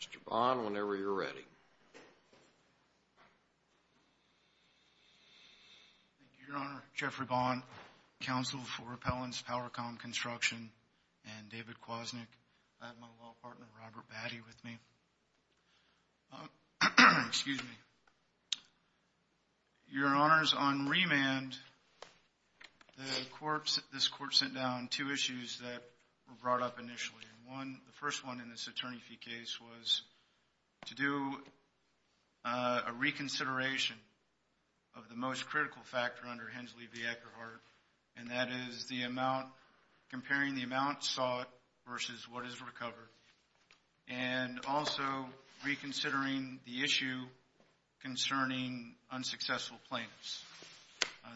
Mr. Bond, whenever you're ready. Thank you, Your Honor. Jeffrey Bond, counsel for Appellant's Powercomm Construction, and David Kwasnik. I have my law partner, Robert Batty, with me. Excuse me. Your Honors, on remand, this Court sent down two issues that were brought up initially. The first one in this attorney fee case was to do a reconsideration of the most critical factor under Hensley v. Eckerhart, and that is comparing the amount sought versus what is recovered, and also reconsidering the issue concerning unsuccessful plaintiffs.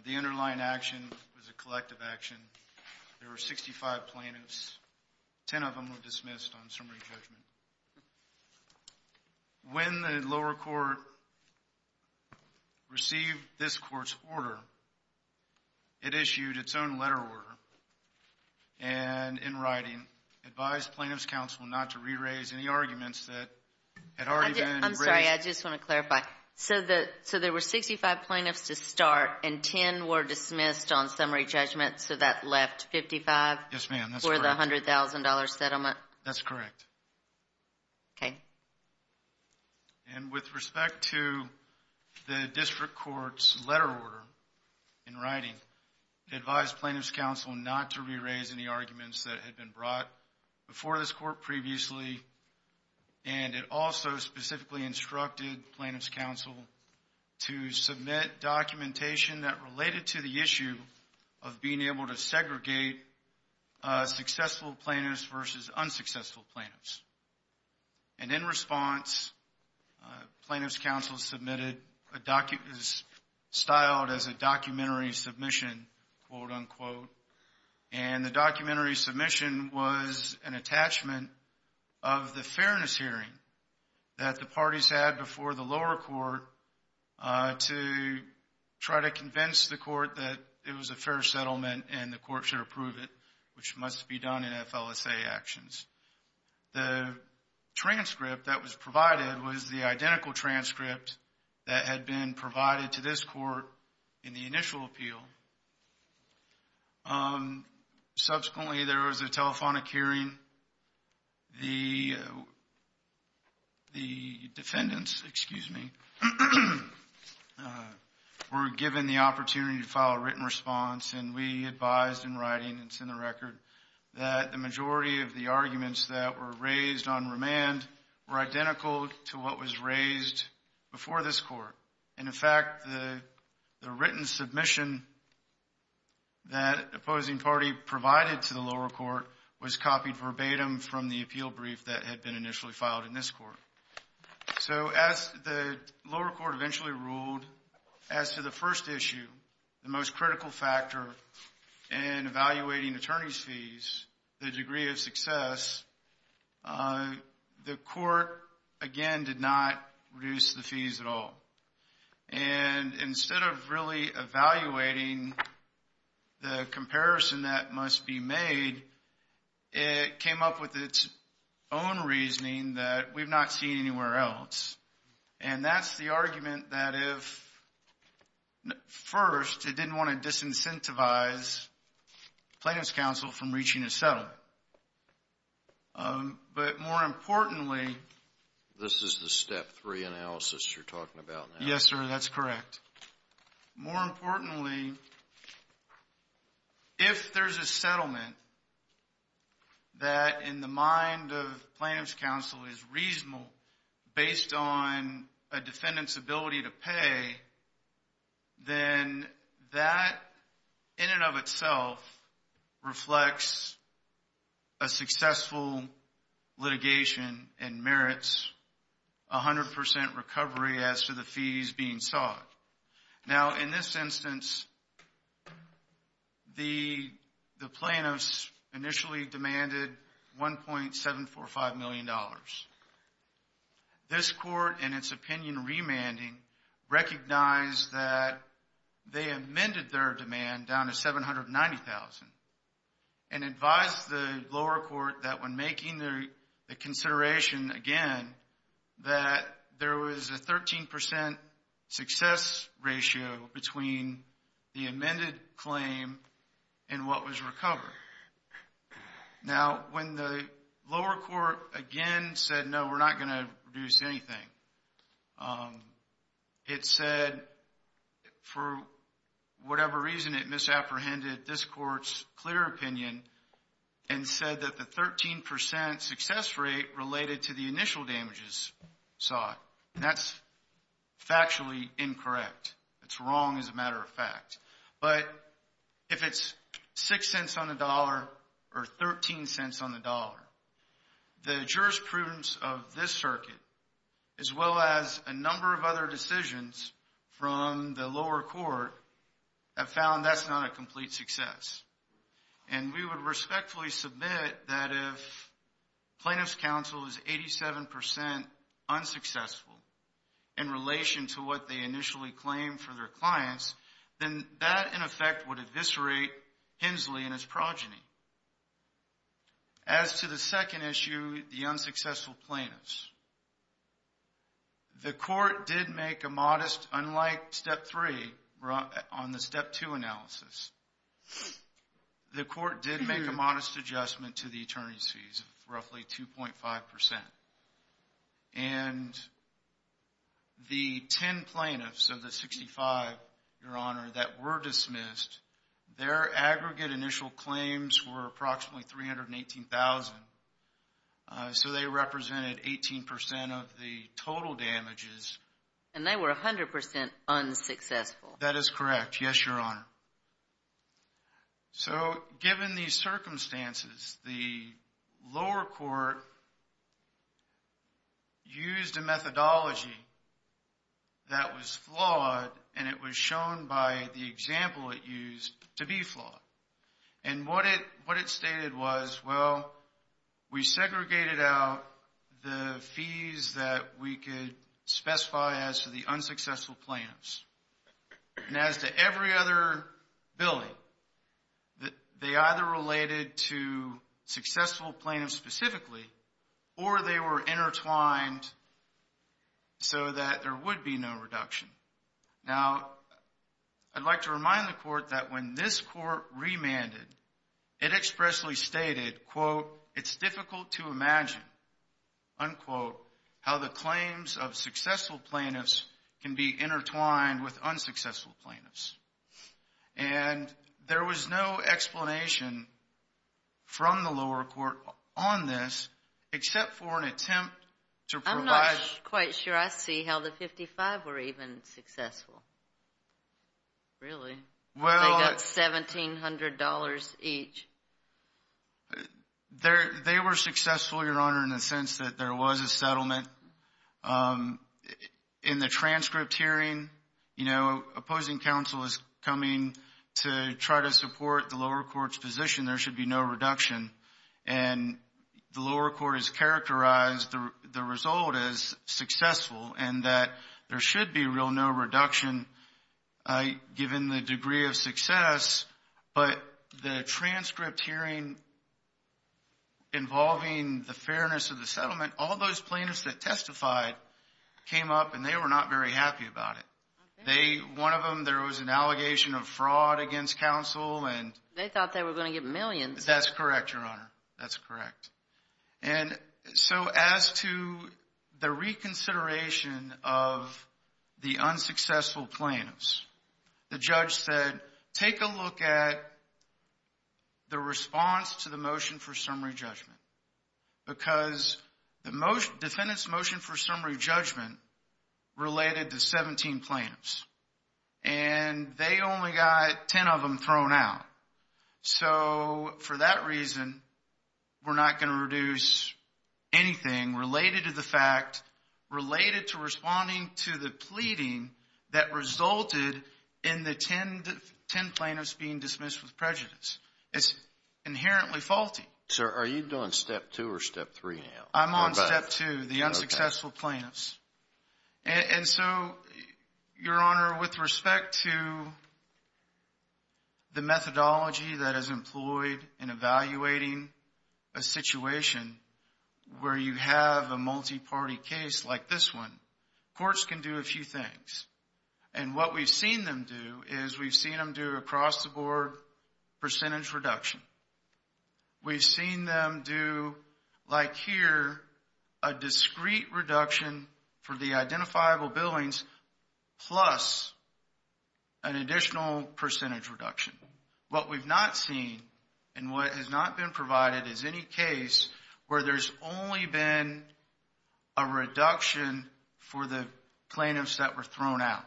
The underlying action was a collective action. There were 65 plaintiffs. Ten of them were dismissed on summary judgment. When the lower court received this Court's order, it issued its own letter order, and in writing advised Plaintiffs' Counsel not to re-raise any arguments that had already been raised. I'm sorry. I just want to clarify. So there were 65 plaintiffs to start, and 10 were dismissed on summary judgment, so that left 55 for the $100,000 settlement? That's correct. Okay. And with respect to the District Court's letter order in writing, it advised Plaintiffs' Counsel not to re-raise any arguments that had been brought before this Court previously, and it also specifically instructed Plaintiffs' Counsel to submit documentation that related to the issue of being able to segregate successful plaintiffs versus unsuccessful plaintiffs. And in response, Plaintiffs' Counsel submitted a document styled as a documentary submission, quote-unquote. And the documentary submission was an attachment of the fairness hearing that the parties had before the lower court to try to convince the court that it was a fair settlement and the court should approve it, which must be done in FLSA actions. The transcript that was provided was the identical transcript that had been provided to this court in the initial appeal. Subsequently, there was a telephonic hearing. The defendants, excuse me, were given the opportunity to file a written response, and we advised in writing and it's in the record that the majority of the arguments that were raised on remand were identical to what was raised before this court. And in fact, the written submission that the opposing party provided to the lower court was copied verbatim from the appeal brief that had been initially filed in this court. So as the lower court eventually ruled, as to the first issue, the most critical factor in evaluating attorney's fees, the degree of success, the court, again, did not reduce the fees at all. And instead of really evaluating the comparison that must be made, it came up with its own reasoning that we've not seen anywhere else. And that's the argument that if, first, it didn't want to disincentivize plaintiff's counsel from reaching a settlement. But more importantly... This is the step three analysis you're talking about now? Yes, sir, that's correct. More importantly, if there's a settlement that, in the mind of plaintiff's counsel, is reasonable based on a defendant's ability to pay, then that, in and of itself, reflects a successful litigation and merits 100% recovery as to the fees being sought. Now, in this instance, the plaintiffs initially demanded $1.745 million. This court, in its opinion remanding, recognized that they amended their demand down to $790,000 and advised the lower court that, when making the consideration again, that there was a 13% success ratio between the amended claim and what was recovered. Now, when the lower court again said, no, we're not going to reduce anything, it said, for whatever reason, it misapprehended this court's clear opinion and said that the 13% success rate related to the initial damages sought. And that's factually incorrect. It's wrong as a matter of fact. But if it's $0.06 on the dollar or $0.13 on the dollar, the jurisprudence of this circuit, as well as a number of other decisions from the lower court, have found that's not a complete success. And we would respectfully submit that if plaintiff's counsel is 87% unsuccessful in relation to what they initially claimed for their clients, then that, in effect, would eviscerate Hensley and his progeny. As to the second issue, the unsuccessful plaintiffs. The court did make a modest, unlike step three on the step two analysis, the court did make a modest adjustment to the attorney's fees of roughly 2.5%. And the 10 plaintiffs of the 65, Your Honor, that were dismissed, their aggregate initial claims were approximately 318,000. So they represented 18% of the total damages. And they were 100% unsuccessful. That is correct. Yes, Your Honor. So given these circumstances, the lower court used a methodology that was flawed, and it was shown by the example it used to be flawed. And what it stated was, well, we segregated out the fees that we could specify as to the unsuccessful plaintiffs. And as to every other billing, they either related to successful plaintiffs specifically, or they were intertwined so that there would be no reduction. Now, I'd like to remind the court that when this court remanded, it expressly stated, quote, it's difficult to imagine, unquote, how the claims of successful plaintiffs can be intertwined with unsuccessful plaintiffs. And there was no explanation from the lower court on this except for an attempt to provide. I'm not quite sure I see how the 55 were even successful. Really? They got $1,700 each. They were successful, Your Honor, in the sense that there was a settlement. In the transcript hearing, you know, opposing counsel is coming to try to support the lower court's position there should be no reduction. And the lower court has characterized the result as successful and that there should be no reduction given the degree of success. But the transcript hearing involving the fairness of the settlement, all those plaintiffs that testified came up, and they were not very happy about it. One of them, there was an allegation of fraud against counsel. They thought they were going to get millions. That's correct, Your Honor. That's correct. And so as to the reconsideration of the unsuccessful plaintiffs, the judge said, take a look at the response to the motion for summary judgment. Because the defendant's motion for summary judgment related to 17 plaintiffs. And they only got 10 of them thrown out. So for that reason, we're not going to reduce anything related to the fact, related to responding to the pleading that resulted in the 10 plaintiffs being dismissed with prejudice. It's inherently faulty. Sir, are you doing Step 2 or Step 3 now? I'm on Step 2, the unsuccessful plaintiffs. And so, Your Honor, with respect to the methodology that is employed in evaluating a situation where you have a multi-party case like this one, courts can do a few things. And what we've seen them do is we've seen them do across-the-board percentage reduction. We've seen them do, like here, a discrete reduction for the identifiable billings plus an additional percentage reduction. What we've not seen and what has not been provided is any case where there's only been a reduction for the plaintiffs that were thrown out.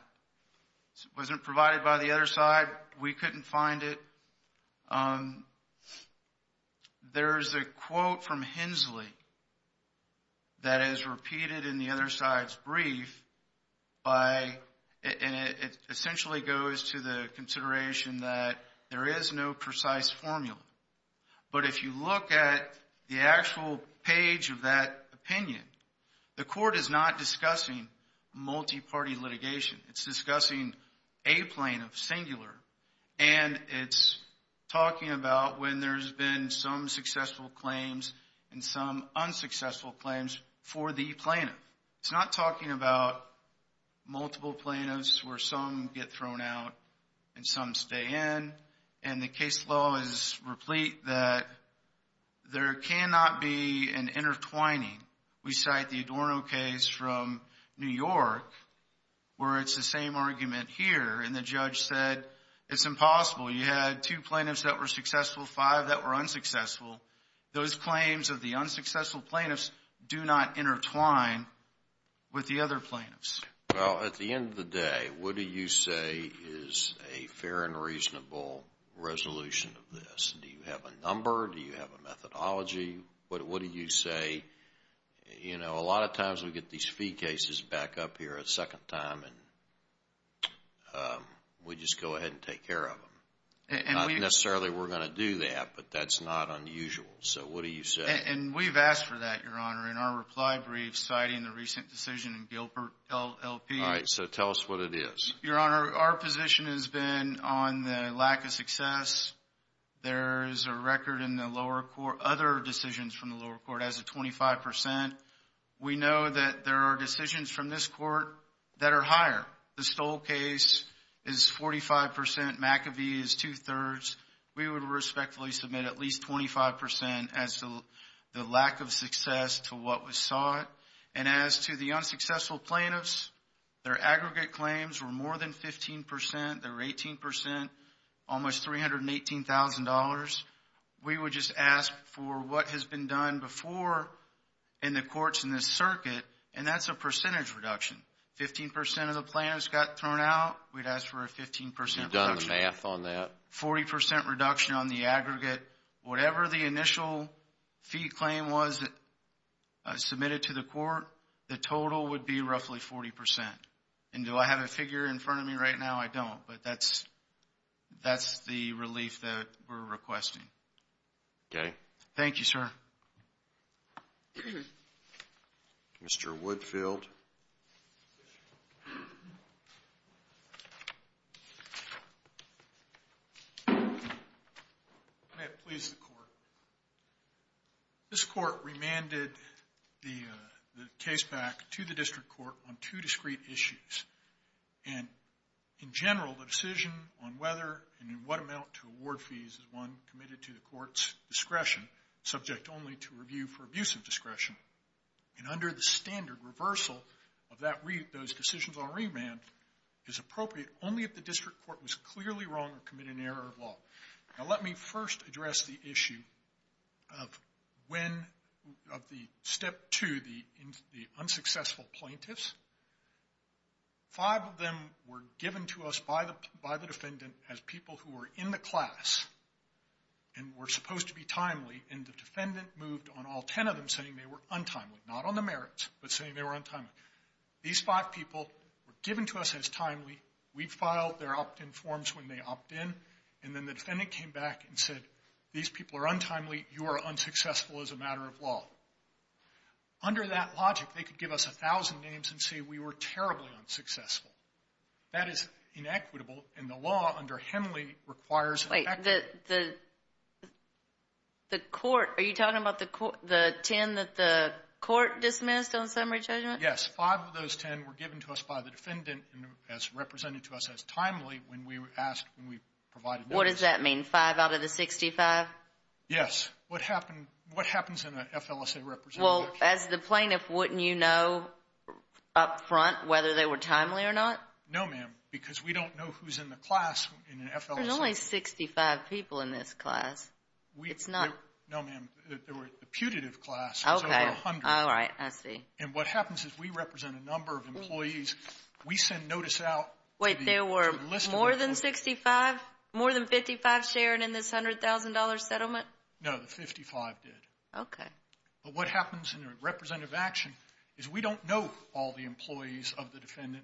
It wasn't provided by the other side. We couldn't find it. There's a quote from Hensley that is repeated in the other side's brief by – and it essentially goes to the consideration that there is no precise formula. But if you look at the actual page of that opinion, the court is not discussing multi-party litigation. It's discussing a plaintiff, singular, and it's talking about when there's been some successful claims and some unsuccessful claims for the plaintiff. It's not talking about multiple plaintiffs where some get thrown out and some stay in. And the case law is replete that there cannot be an intertwining. We cite the Adorno case from New York where it's the same argument here. And the judge said it's impossible. You had two plaintiffs that were successful, five that were unsuccessful. Those claims of the unsuccessful plaintiffs do not intertwine with the other plaintiffs. Well, at the end of the day, what do you say is a fair and reasonable resolution of this? Do you have a number? Do you have a methodology? What do you say? You know, a lot of times we get these fee cases back up here a second time and we just go ahead and take care of them. Not necessarily we're going to do that, but that's not unusual. So what do you say? And we've asked for that, Your Honor, in our reply brief citing the recent decision in Gilbert LLP. All right, so tell us what it is. Your Honor, our position has been on the lack of success. There is a record in the lower court, other decisions from the lower court, as of 25%. We know that there are decisions from this court that are higher. The Stoll case is 45%. McAvee is two-thirds. We would respectfully submit at least 25% as to the lack of success to what was sought. And as to the unsuccessful plaintiffs, their aggregate claims were more than 15%. They were 18%, almost $318,000. We would just ask for what has been done before in the courts in this circuit, and that's a percentage reduction. 15% of the plaintiffs got thrown out. We'd ask for a 15% reduction. You've done the math on that. 40% reduction on the aggregate. Whatever the initial fee claim was submitted to the court, the total would be roughly 40%. And do I have a figure in front of me right now? I don't, but that's the relief that we're requesting. Okay. Thank you, sir. Mr. Woodfield. May it please the Court. This court remanded the case back to the district court on two discrete issues. And in general, the decision on whether and in what amount to award fees is one committed to the court's discretion, subject only to review for abuse of discretion. And under the standard reversal of those decisions on remand, it's appropriate only if the district court was clearly wrong or committed an error of law. Now, let me first address the issue of step two, the unsuccessful plaintiffs. Five of them were given to us by the defendant as people who were in the class and were supposed to be timely, and the defendant moved on all ten of them, saying they were untimely. Not on the merits, but saying they were untimely. These five people were given to us as timely. We filed their opt-in forms when they opt in. And then the defendant came back and said, these people are untimely. You are unsuccessful as a matter of law. Under that logic, they could give us a thousand names and say we were terribly unsuccessful. That is inequitable, and the law under Henley requires that. Wait. The court, are you talking about the ten that the court dismissed on summary judgment? Yes. Five of those ten were given to us by the defendant as represented to us as timely when we were asked, when we provided notice. What does that mean? Five out of the 65? Yes. What happens in an FLSA representation? Well, as the plaintiff, wouldn't you know up front whether they were timely or not? No, ma'am, because we don't know who's in the class in an FLSA. There's only 65 people in this class. It's not. No, ma'am. The putative class is over 100. Okay. All right. I see. And what happens is we represent a number of employees. We send notice out. Wait. There were more than 65? More than 55 shared in this $100,000 settlement? No. The 55 did. Okay. But what happens in a representative action is we don't know all the employees of the defendant.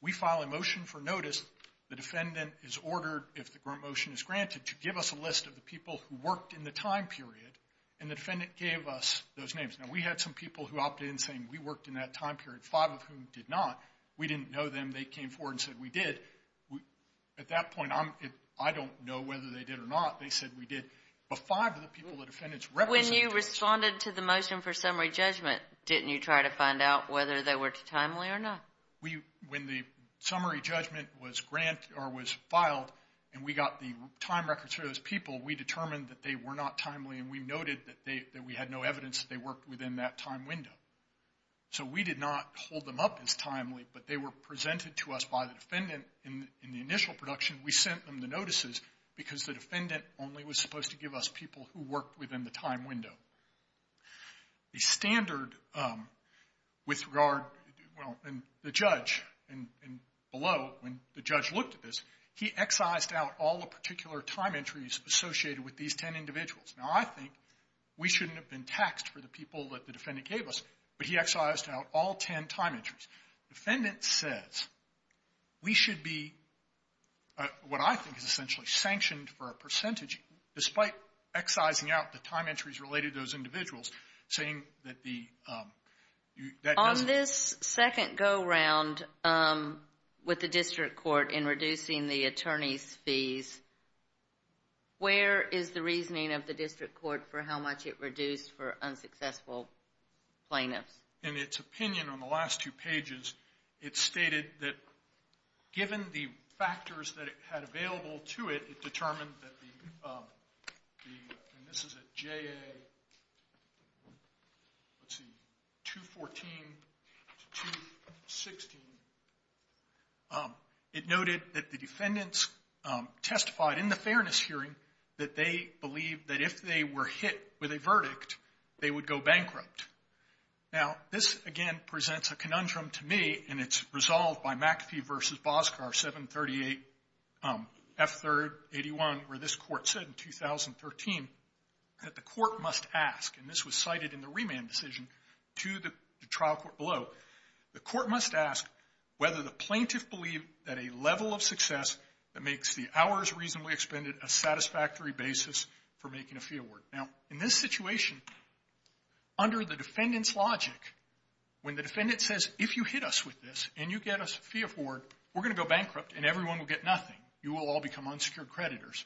We file a motion for notice. The defendant is ordered, if the motion is granted, to give us a list of the people who worked in the time period. And the defendant gave us those names. Now, we had some people who opted in saying we worked in that time period, five of whom did not. We didn't know them. They came forward and said we did. At that point, I don't know whether they did or not. They said we did. But five of the people the defendants represented. When you responded to the motion for summary judgment, didn't you try to find out whether they were timely or not? When the summary judgment was filed and we got the time records for those people, we determined that they were not timely, and we noted that we had no evidence that they worked within that time window. So we did not hold them up as timely, but they were presented to us by the defendant in the initial production. We sent them the notices because the defendant only was supposed to give us people who worked within the time window. The standard with regard to the judge and below, when the judge looked at this, he excised out all the particular time entries associated with these ten individuals. Now, I think we shouldn't have been taxed for the people that the defendant gave us, but he excised out all ten time entries. The defendant says we should be what I think is essentially sanctioned for a percentage, despite excising out the time entries related to those individuals, saying that the... On this second go-round with the district court in reducing the attorney's fees, where is the reasoning of the district court for how much it reduced for unsuccessful plaintiffs? In its opinion on the last two pages, it stated that given the factors that it had available to it, it determined that the... And this is at JA... Let's see, 214 to 216. It noted that the defendants testified in the fairness hearing that they believed that if they were hit with a verdict, they would go bankrupt. Now, this again presents a conundrum to me, and it's resolved by McAfee v. Bosgar, 738F3-81, where this court said in 2013 that the court must ask, and this was cited in the remand decision to the trial court below, the court must ask whether the plaintiff believed that a level of success that makes the hours reasonably expended a satisfactory basis for making a fee award. Now, in this situation, under the defendant's logic, when the defendant says, if you hit us with this and you get us a fee award, we're going to go bankrupt and everyone will get nothing. You will all become unsecured creditors.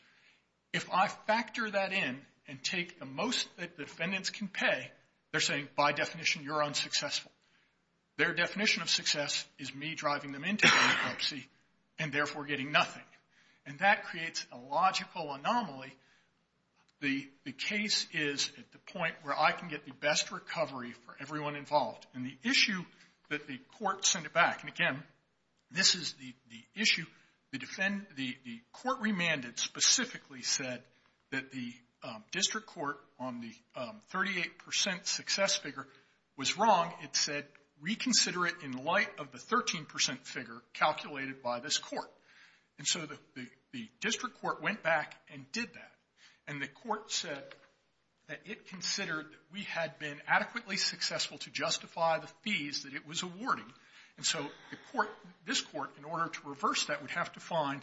If I factor that in and take the most that the defendants can pay, they're saying, by definition, you're unsuccessful. Their definition of success is me driving them into bankruptcy and therefore getting nothing, and that creates a logical anomaly. The case is at the point where I can get the best recovery for everyone involved, and the issue that the court sent it back, and again, this is the issue. The court remanded specifically said that the district court on the 38 percent success figure was wrong. It said, reconsider it in light of the 13 percent figure calculated by this court. And so the district court went back and did that, and the court said that it considered that we had been adequately successful to justify the fees that it was awarding. And so the court, this court, in order to reverse that, would have to find.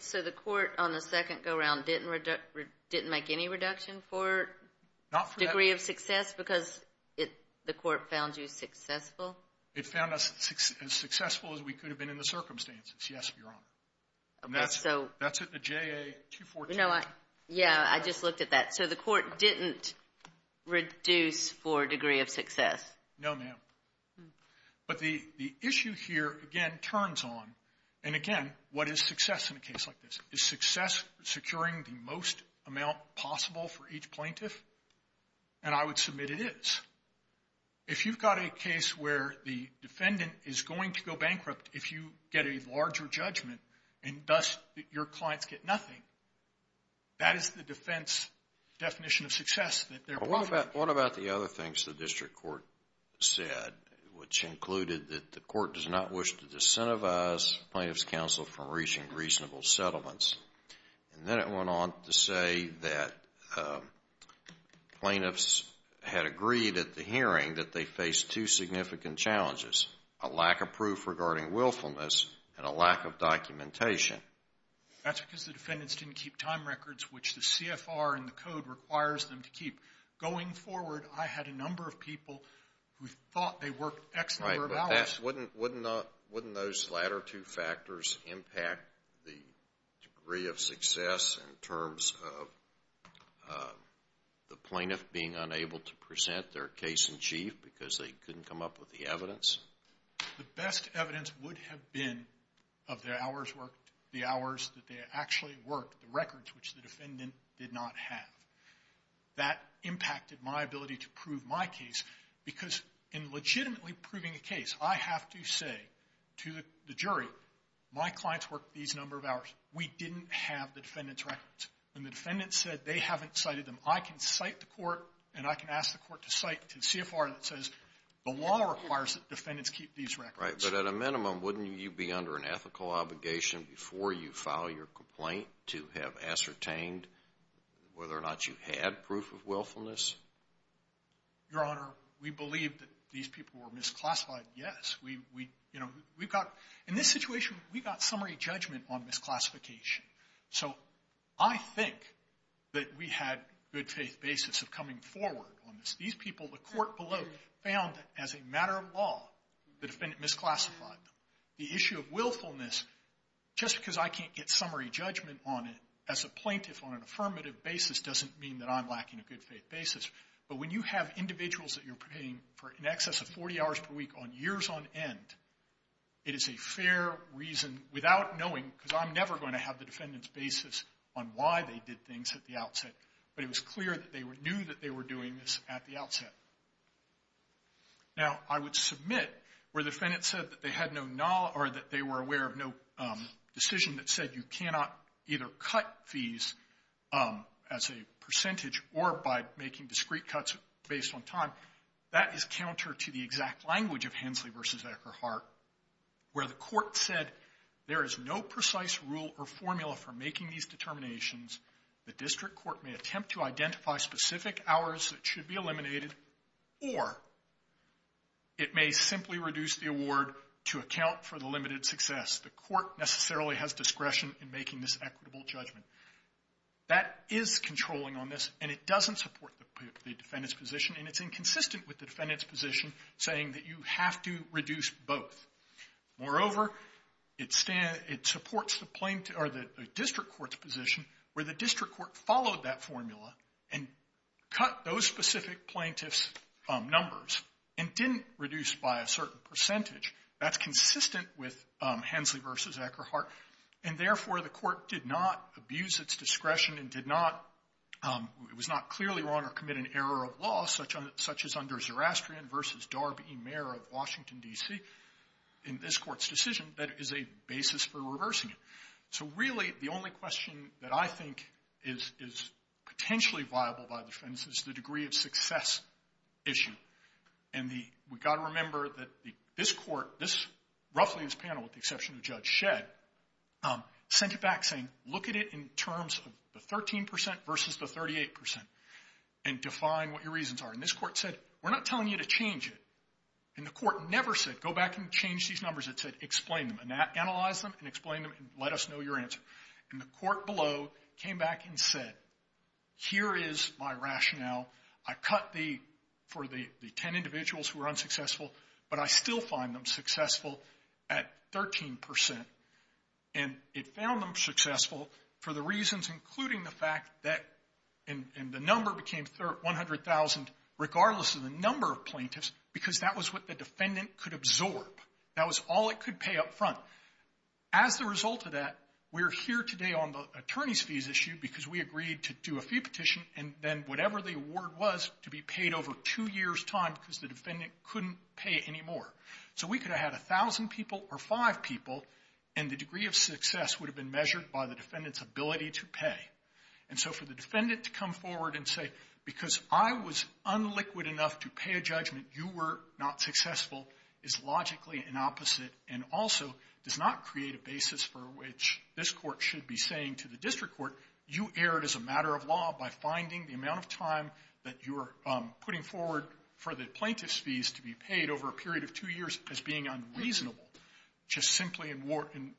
So the court on the second go-around didn't make any reduction for degree of success because the court found you successful? It found us as successful as we could have been in the circumstances, yes, Your Honor. And that's at the JA-214. No, I, yeah, I just looked at that. So the court didn't reduce for degree of success? No, ma'am. But the issue here, again, turns on, and again, what is success in a case like this? Is success securing the most amount possible for each plaintiff? And I would submit it is. If you've got a case where the defendant is going to go bankrupt if you get a larger judgment and, thus, your clients get nothing, that is the defense definition of success. What about the other things the district court said, which included that the court does not wish to disincentivize plaintiff's counsel from reaching reasonable settlements? And then it went on to say that plaintiffs had agreed at the hearing that they faced two significant challenges, a lack of proof regarding willfulness and a lack of documentation. That's because the defendants didn't keep time records, which the CFR and the code requires them to keep. Going forward, I had a number of people who thought they worked X number of hours. Right, but wouldn't those latter two factors impact the degree of success in terms of the plaintiff being unable to present their case in chief because they couldn't come up with the evidence? The best evidence would have been of their hours worked, the hours that they actually worked, the records which the defendant did not have. That impacted my ability to prove my case because in legitimately proving a case, I have to say to the jury, my clients worked these number of hours. We didn't have the defendant's records. When the defendant said they haven't cited them, I can cite the court and I can ask the court to cite the CFR that says the law requires that defendants keep these records. Right, but at a minimum, wouldn't you be under an ethical obligation before you file your complaint to have ascertained whether or not you had proof of willfulness? Your Honor, we believe that these people were misclassified, yes. We've got – in this situation, we've got summary judgment on misclassification. So I think that we had good faith basis of coming forward on this. These people, the court below found that as a matter of law, the defendant misclassified them. The issue of willfulness, just because I can't get summary judgment on it as a plaintiff on an affirmative basis doesn't mean that I'm lacking a good faith basis. But when you have individuals that you're paying for in excess of 40 hours per week on years on end, it is a fair reason without knowing because I'm never going to have the defendant's basis on why they did things at the outset. But it was clear that they knew that they were doing this at the outset. Now, I would submit where defendants said that they had no – or that they were aware of no decision that said you cannot either cut fees as a percentage or by making discrete cuts based on time, that is counter to the exact language of Hensley v. Eckerhart, where the court said there is no precise rule or formula for making these determinations. The district court may attempt to identify specific hours that should be eliminated or it may simply reduce the award to account for the limited success. The court necessarily has discretion in making this equitable judgment. That is controlling on this and it doesn't support the defendant's position and it's inconsistent with the defendant's position saying that you have to reduce both. Moreover, it supports the district court's position where the district court followed that formula and cut those specific plaintiffs' numbers and didn't reduce by a certain percentage. That's consistent with Hensley v. Eckerhart. And, therefore, the court did not abuse its discretion and did not – it was not clearly wrong or commit an error of law such as under Zerastrian v. Darby, Mayor of Washington, D.C., in this court's decision that is a basis for reversing it. So, really, the only question that I think is potentially viable by the defense is the degree of success issue. And we've got to remember that this court, this – roughly this panel, with the exception of Judge Shedd, sent it back saying, look at it in terms of the 13% versus the 38% and define what your reasons are. And this court said, we're not telling you to change it. And the court never said, go back and change these numbers. It said, explain them. Analyze them and explain them and let us know your answer. And the court below came back and said, here is my rationale. I cut the – for the 10 individuals who were unsuccessful, but I still find them successful at 13%. And it found them successful for the reasons including the fact that – regardless of the number of plaintiffs, because that was what the defendant could absorb. That was all it could pay up front. As a result of that, we're here today on the attorney's fees issue because we agreed to do a fee petition and then whatever the award was to be paid over two years' time because the defendant couldn't pay any more. So we could have had 1,000 people or five people, and the degree of success would have been measured by the defendant's ability to pay. And so for the defendant to come forward and say, because I was unliquid enough to pay a judgment, you were not successful, is logically an opposite and also does not create a basis for which this court should be saying to the district court, you erred as a matter of law by finding the amount of time that you're putting forward for the plaintiff's fees to be paid over a period of two years as being unreasonable, just simply in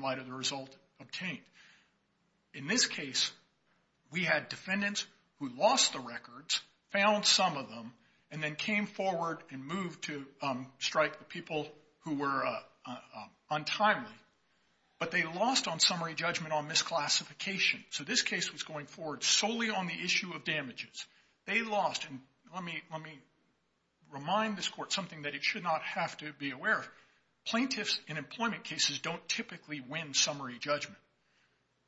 light of the result obtained. In this case, we had defendants who lost the records, found some of them, and then came forward and moved to strike the people who were untimely. But they lost on summary judgment on misclassification. So this case was going forward solely on the issue of damages. They lost, and let me remind this court something that it should not have to be aware of. Plaintiffs in employment cases don't typically win summary judgment.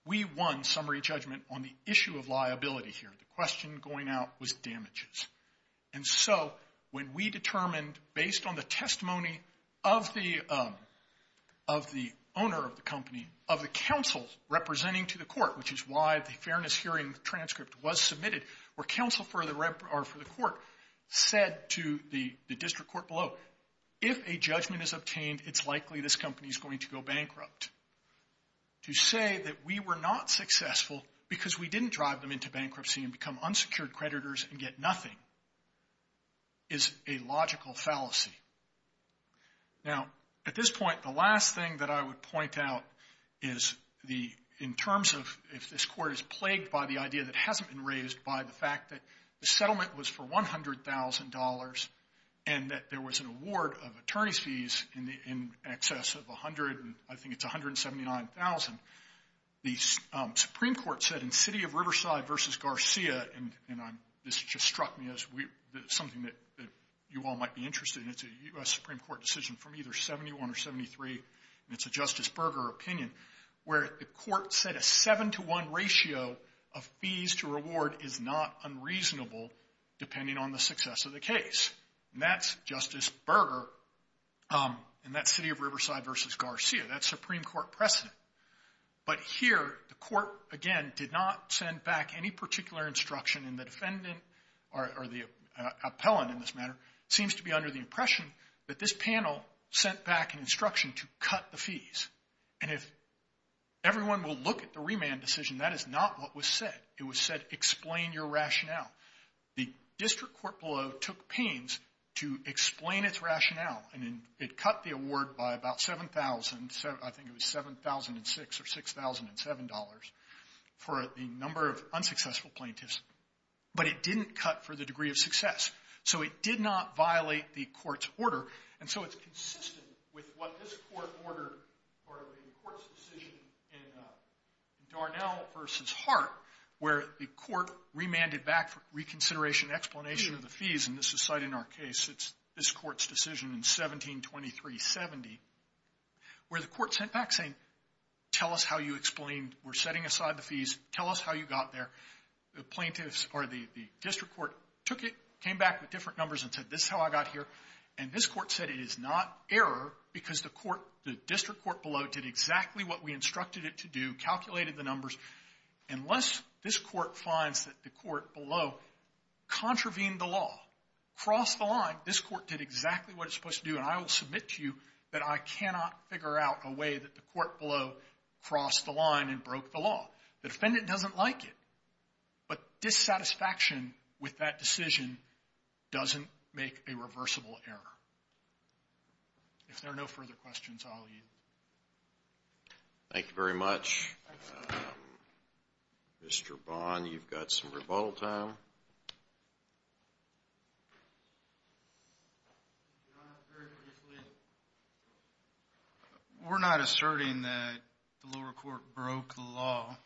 We won summary judgment on the issue of liability here. The question going out was damages. And so when we determined, based on the testimony of the owner of the company, of the counsel representing to the court, which is why the fairness hearing transcript was submitted, where counsel for the court said to the district court below, if a judgment is obtained, it's likely this company is going to go bankrupt. To say that we were not successful because we didn't drive them into bankruptcy and become unsecured creditors and get nothing is a logical fallacy. Now, at this point, the last thing that I would point out is in terms of if this court is plagued by the idea that hasn't been raised by the fact that the settlement was for $100,000 and that there was an award of attorney's fees in excess of $179,000, the Supreme Court said in City of Riverside v. Garcia, and this just struck me as something that you all might be interested in. It's a U.S. Supreme Court decision from either 71 or 73, and it's a Justice Berger opinion, where the court said a 7-to-1 ratio of fees to reward is not unreasonable depending on the success of the case. And that's Justice Berger in that City of Riverside v. Garcia. That's Supreme Court precedent. But here, the court, again, did not send back any particular instruction, and the defendant or the appellant in this matter seems to be under the impression that this panel sent back an instruction to cut the fees. And if everyone will look at the remand decision, that is not what was said. It was said, explain your rationale. The district court below took pains to explain its rationale, and it cut the award by about $7,000. I think it was $7,006 or $6,007 for the number of unsuccessful plaintiffs, but it didn't cut for the degree of success. So it did not violate the court's order, and so it's consistent with what this court ordered or the court's decision in Darnell v. Hart, where the court remanded back for reconsideration and explanation of the fees, and this is cited in our case. It's this court's decision in 1723-70, where the court sent back saying, tell us how you explained we're setting aside the fees. Tell us how you got there. The plaintiffs or the district court took it, came back with different numbers, and said this is how I got here, and this court said it is not error because the court, the district court below did exactly what we instructed it to do, calculated the numbers. Unless this court finds that the court below contravened the law, crossed the line, this court did exactly what it's supposed to do, and I will submit to you that I cannot figure out a way that the court below crossed the line and broke the law. The defendant doesn't like it, but dissatisfaction with that decision doesn't make a reversible error. If there are no further questions, I'll yield. Thank you very much. Mr. Bond, you've got some rebuttal time. We're not asserting that the lower court broke the law.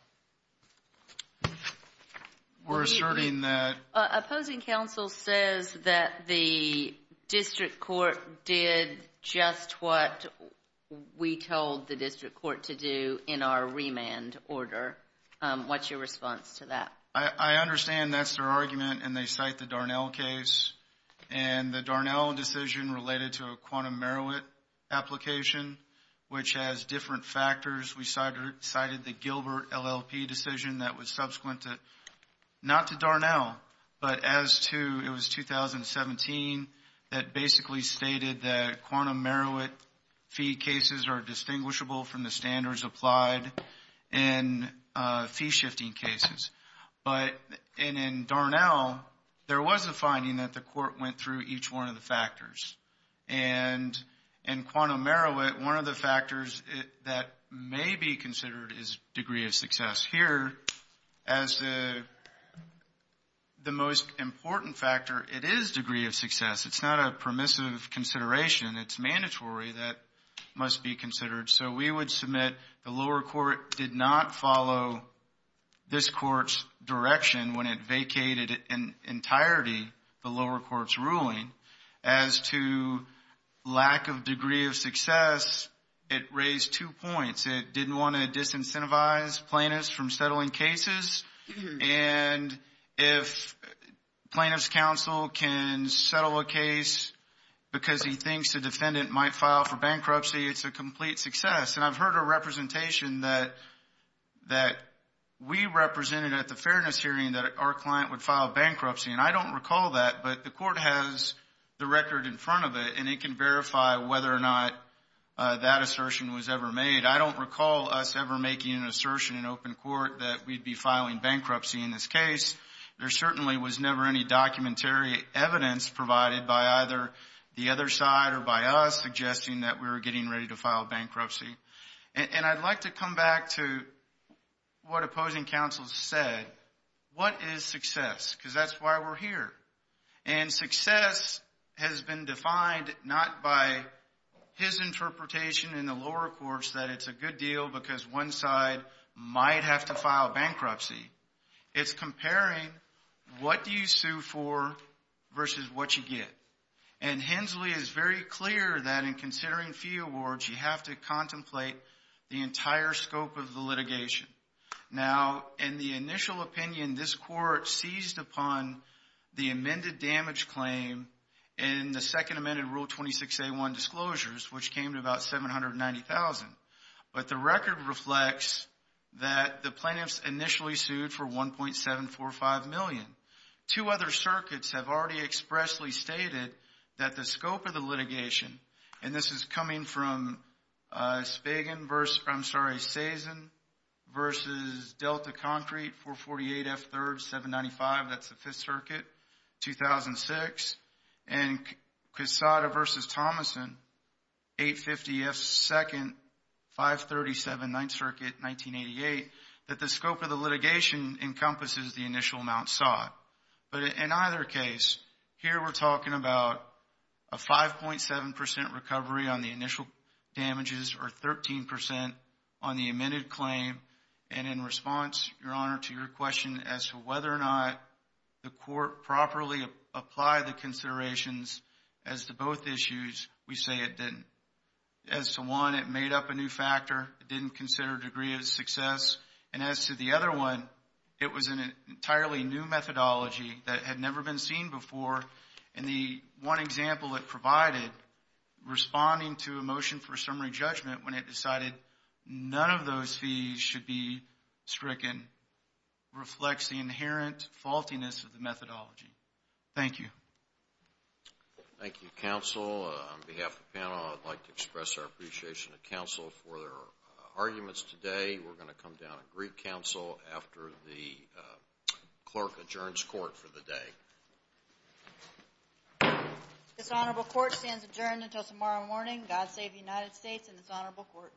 We're asserting that... the district court did just what we told the district court to do in our remand order. What's your response to that? I understand that's their argument, and they cite the Darnell case, and the Darnell decision related to a quantum Merowit application, which has different factors. We cited the Gilbert LLP decision that was subsequent to, not to Darnell, but as to, it was 2017 that basically stated that quantum Merowit fee cases are distinguishable from the standards applied in fee-shifting cases. But in Darnell, there was a finding that the court went through each one of the factors. And in quantum Merowit, one of the factors that may be considered is degree of success. Here, as the most important factor, it is degree of success. It's not a permissive consideration. It's mandatory that it must be considered. So we would submit the lower court did not follow this court's direction when it vacated in entirety the lower court's ruling. As to lack of degree of success, it raised two points. It didn't want to disincentivize plaintiffs from settling cases. And if plaintiff's counsel can settle a case because he thinks the defendant might file for bankruptcy, it's a complete success. And I've heard a representation that we represented at the fairness hearing that our client would file bankruptcy. And I don't recall that, but the court has the record in front of it, and it can verify whether or not that assertion was ever made. I don't recall us ever making an assertion in open court that we'd be filing bankruptcy in this case. There certainly was never any documentary evidence provided by either the other side or by us suggesting that we were getting ready to file bankruptcy. And I'd like to come back to what opposing counsel said. What is success? Because that's why we're here. And success has been defined not by his interpretation in the lower courts that it's a good deal because one side might have to file bankruptcy. It's comparing what you sue for versus what you get. And Hensley is very clear that in considering fee awards, you have to contemplate the entire scope of the litigation. Now, in the initial opinion, this court seized upon the amended damage claim in the second amended Rule 26A1 disclosures, which came to about $790,000. But the record reflects that the plaintiffs initially sued for $1.745 million. Two other circuits have already expressly stated that the scope of the litigation, and this is coming from Spagan versus, I'm sorry, and Quesada versus Thomason, 850F2nd, 537 Ninth Circuit, 1988, that the scope of the litigation encompasses the initial amount sought. But in either case, here we're talking about a 5.7% recovery on the initial damages or 13% on the amended claim. And in response, Your Honor, to your question as to whether or not the court properly applied the considerations as to both issues, we say it didn't. As to one, it made up a new factor. It didn't consider degree of success. And as to the other one, it was an entirely new methodology that had never been seen before. And the one example it provided, responding to a motion for summary judgment when it decided none of those fees should be stricken, reflects the inherent faultiness of the methodology. Thank you. Thank you, counsel. On behalf of the panel, I'd like to express our appreciation to counsel for their arguments today. We're going to come down and greet counsel after the clerk adjourns court for the day. This honorable court stands adjourned until tomorrow morning. God save the United States and this honorable court.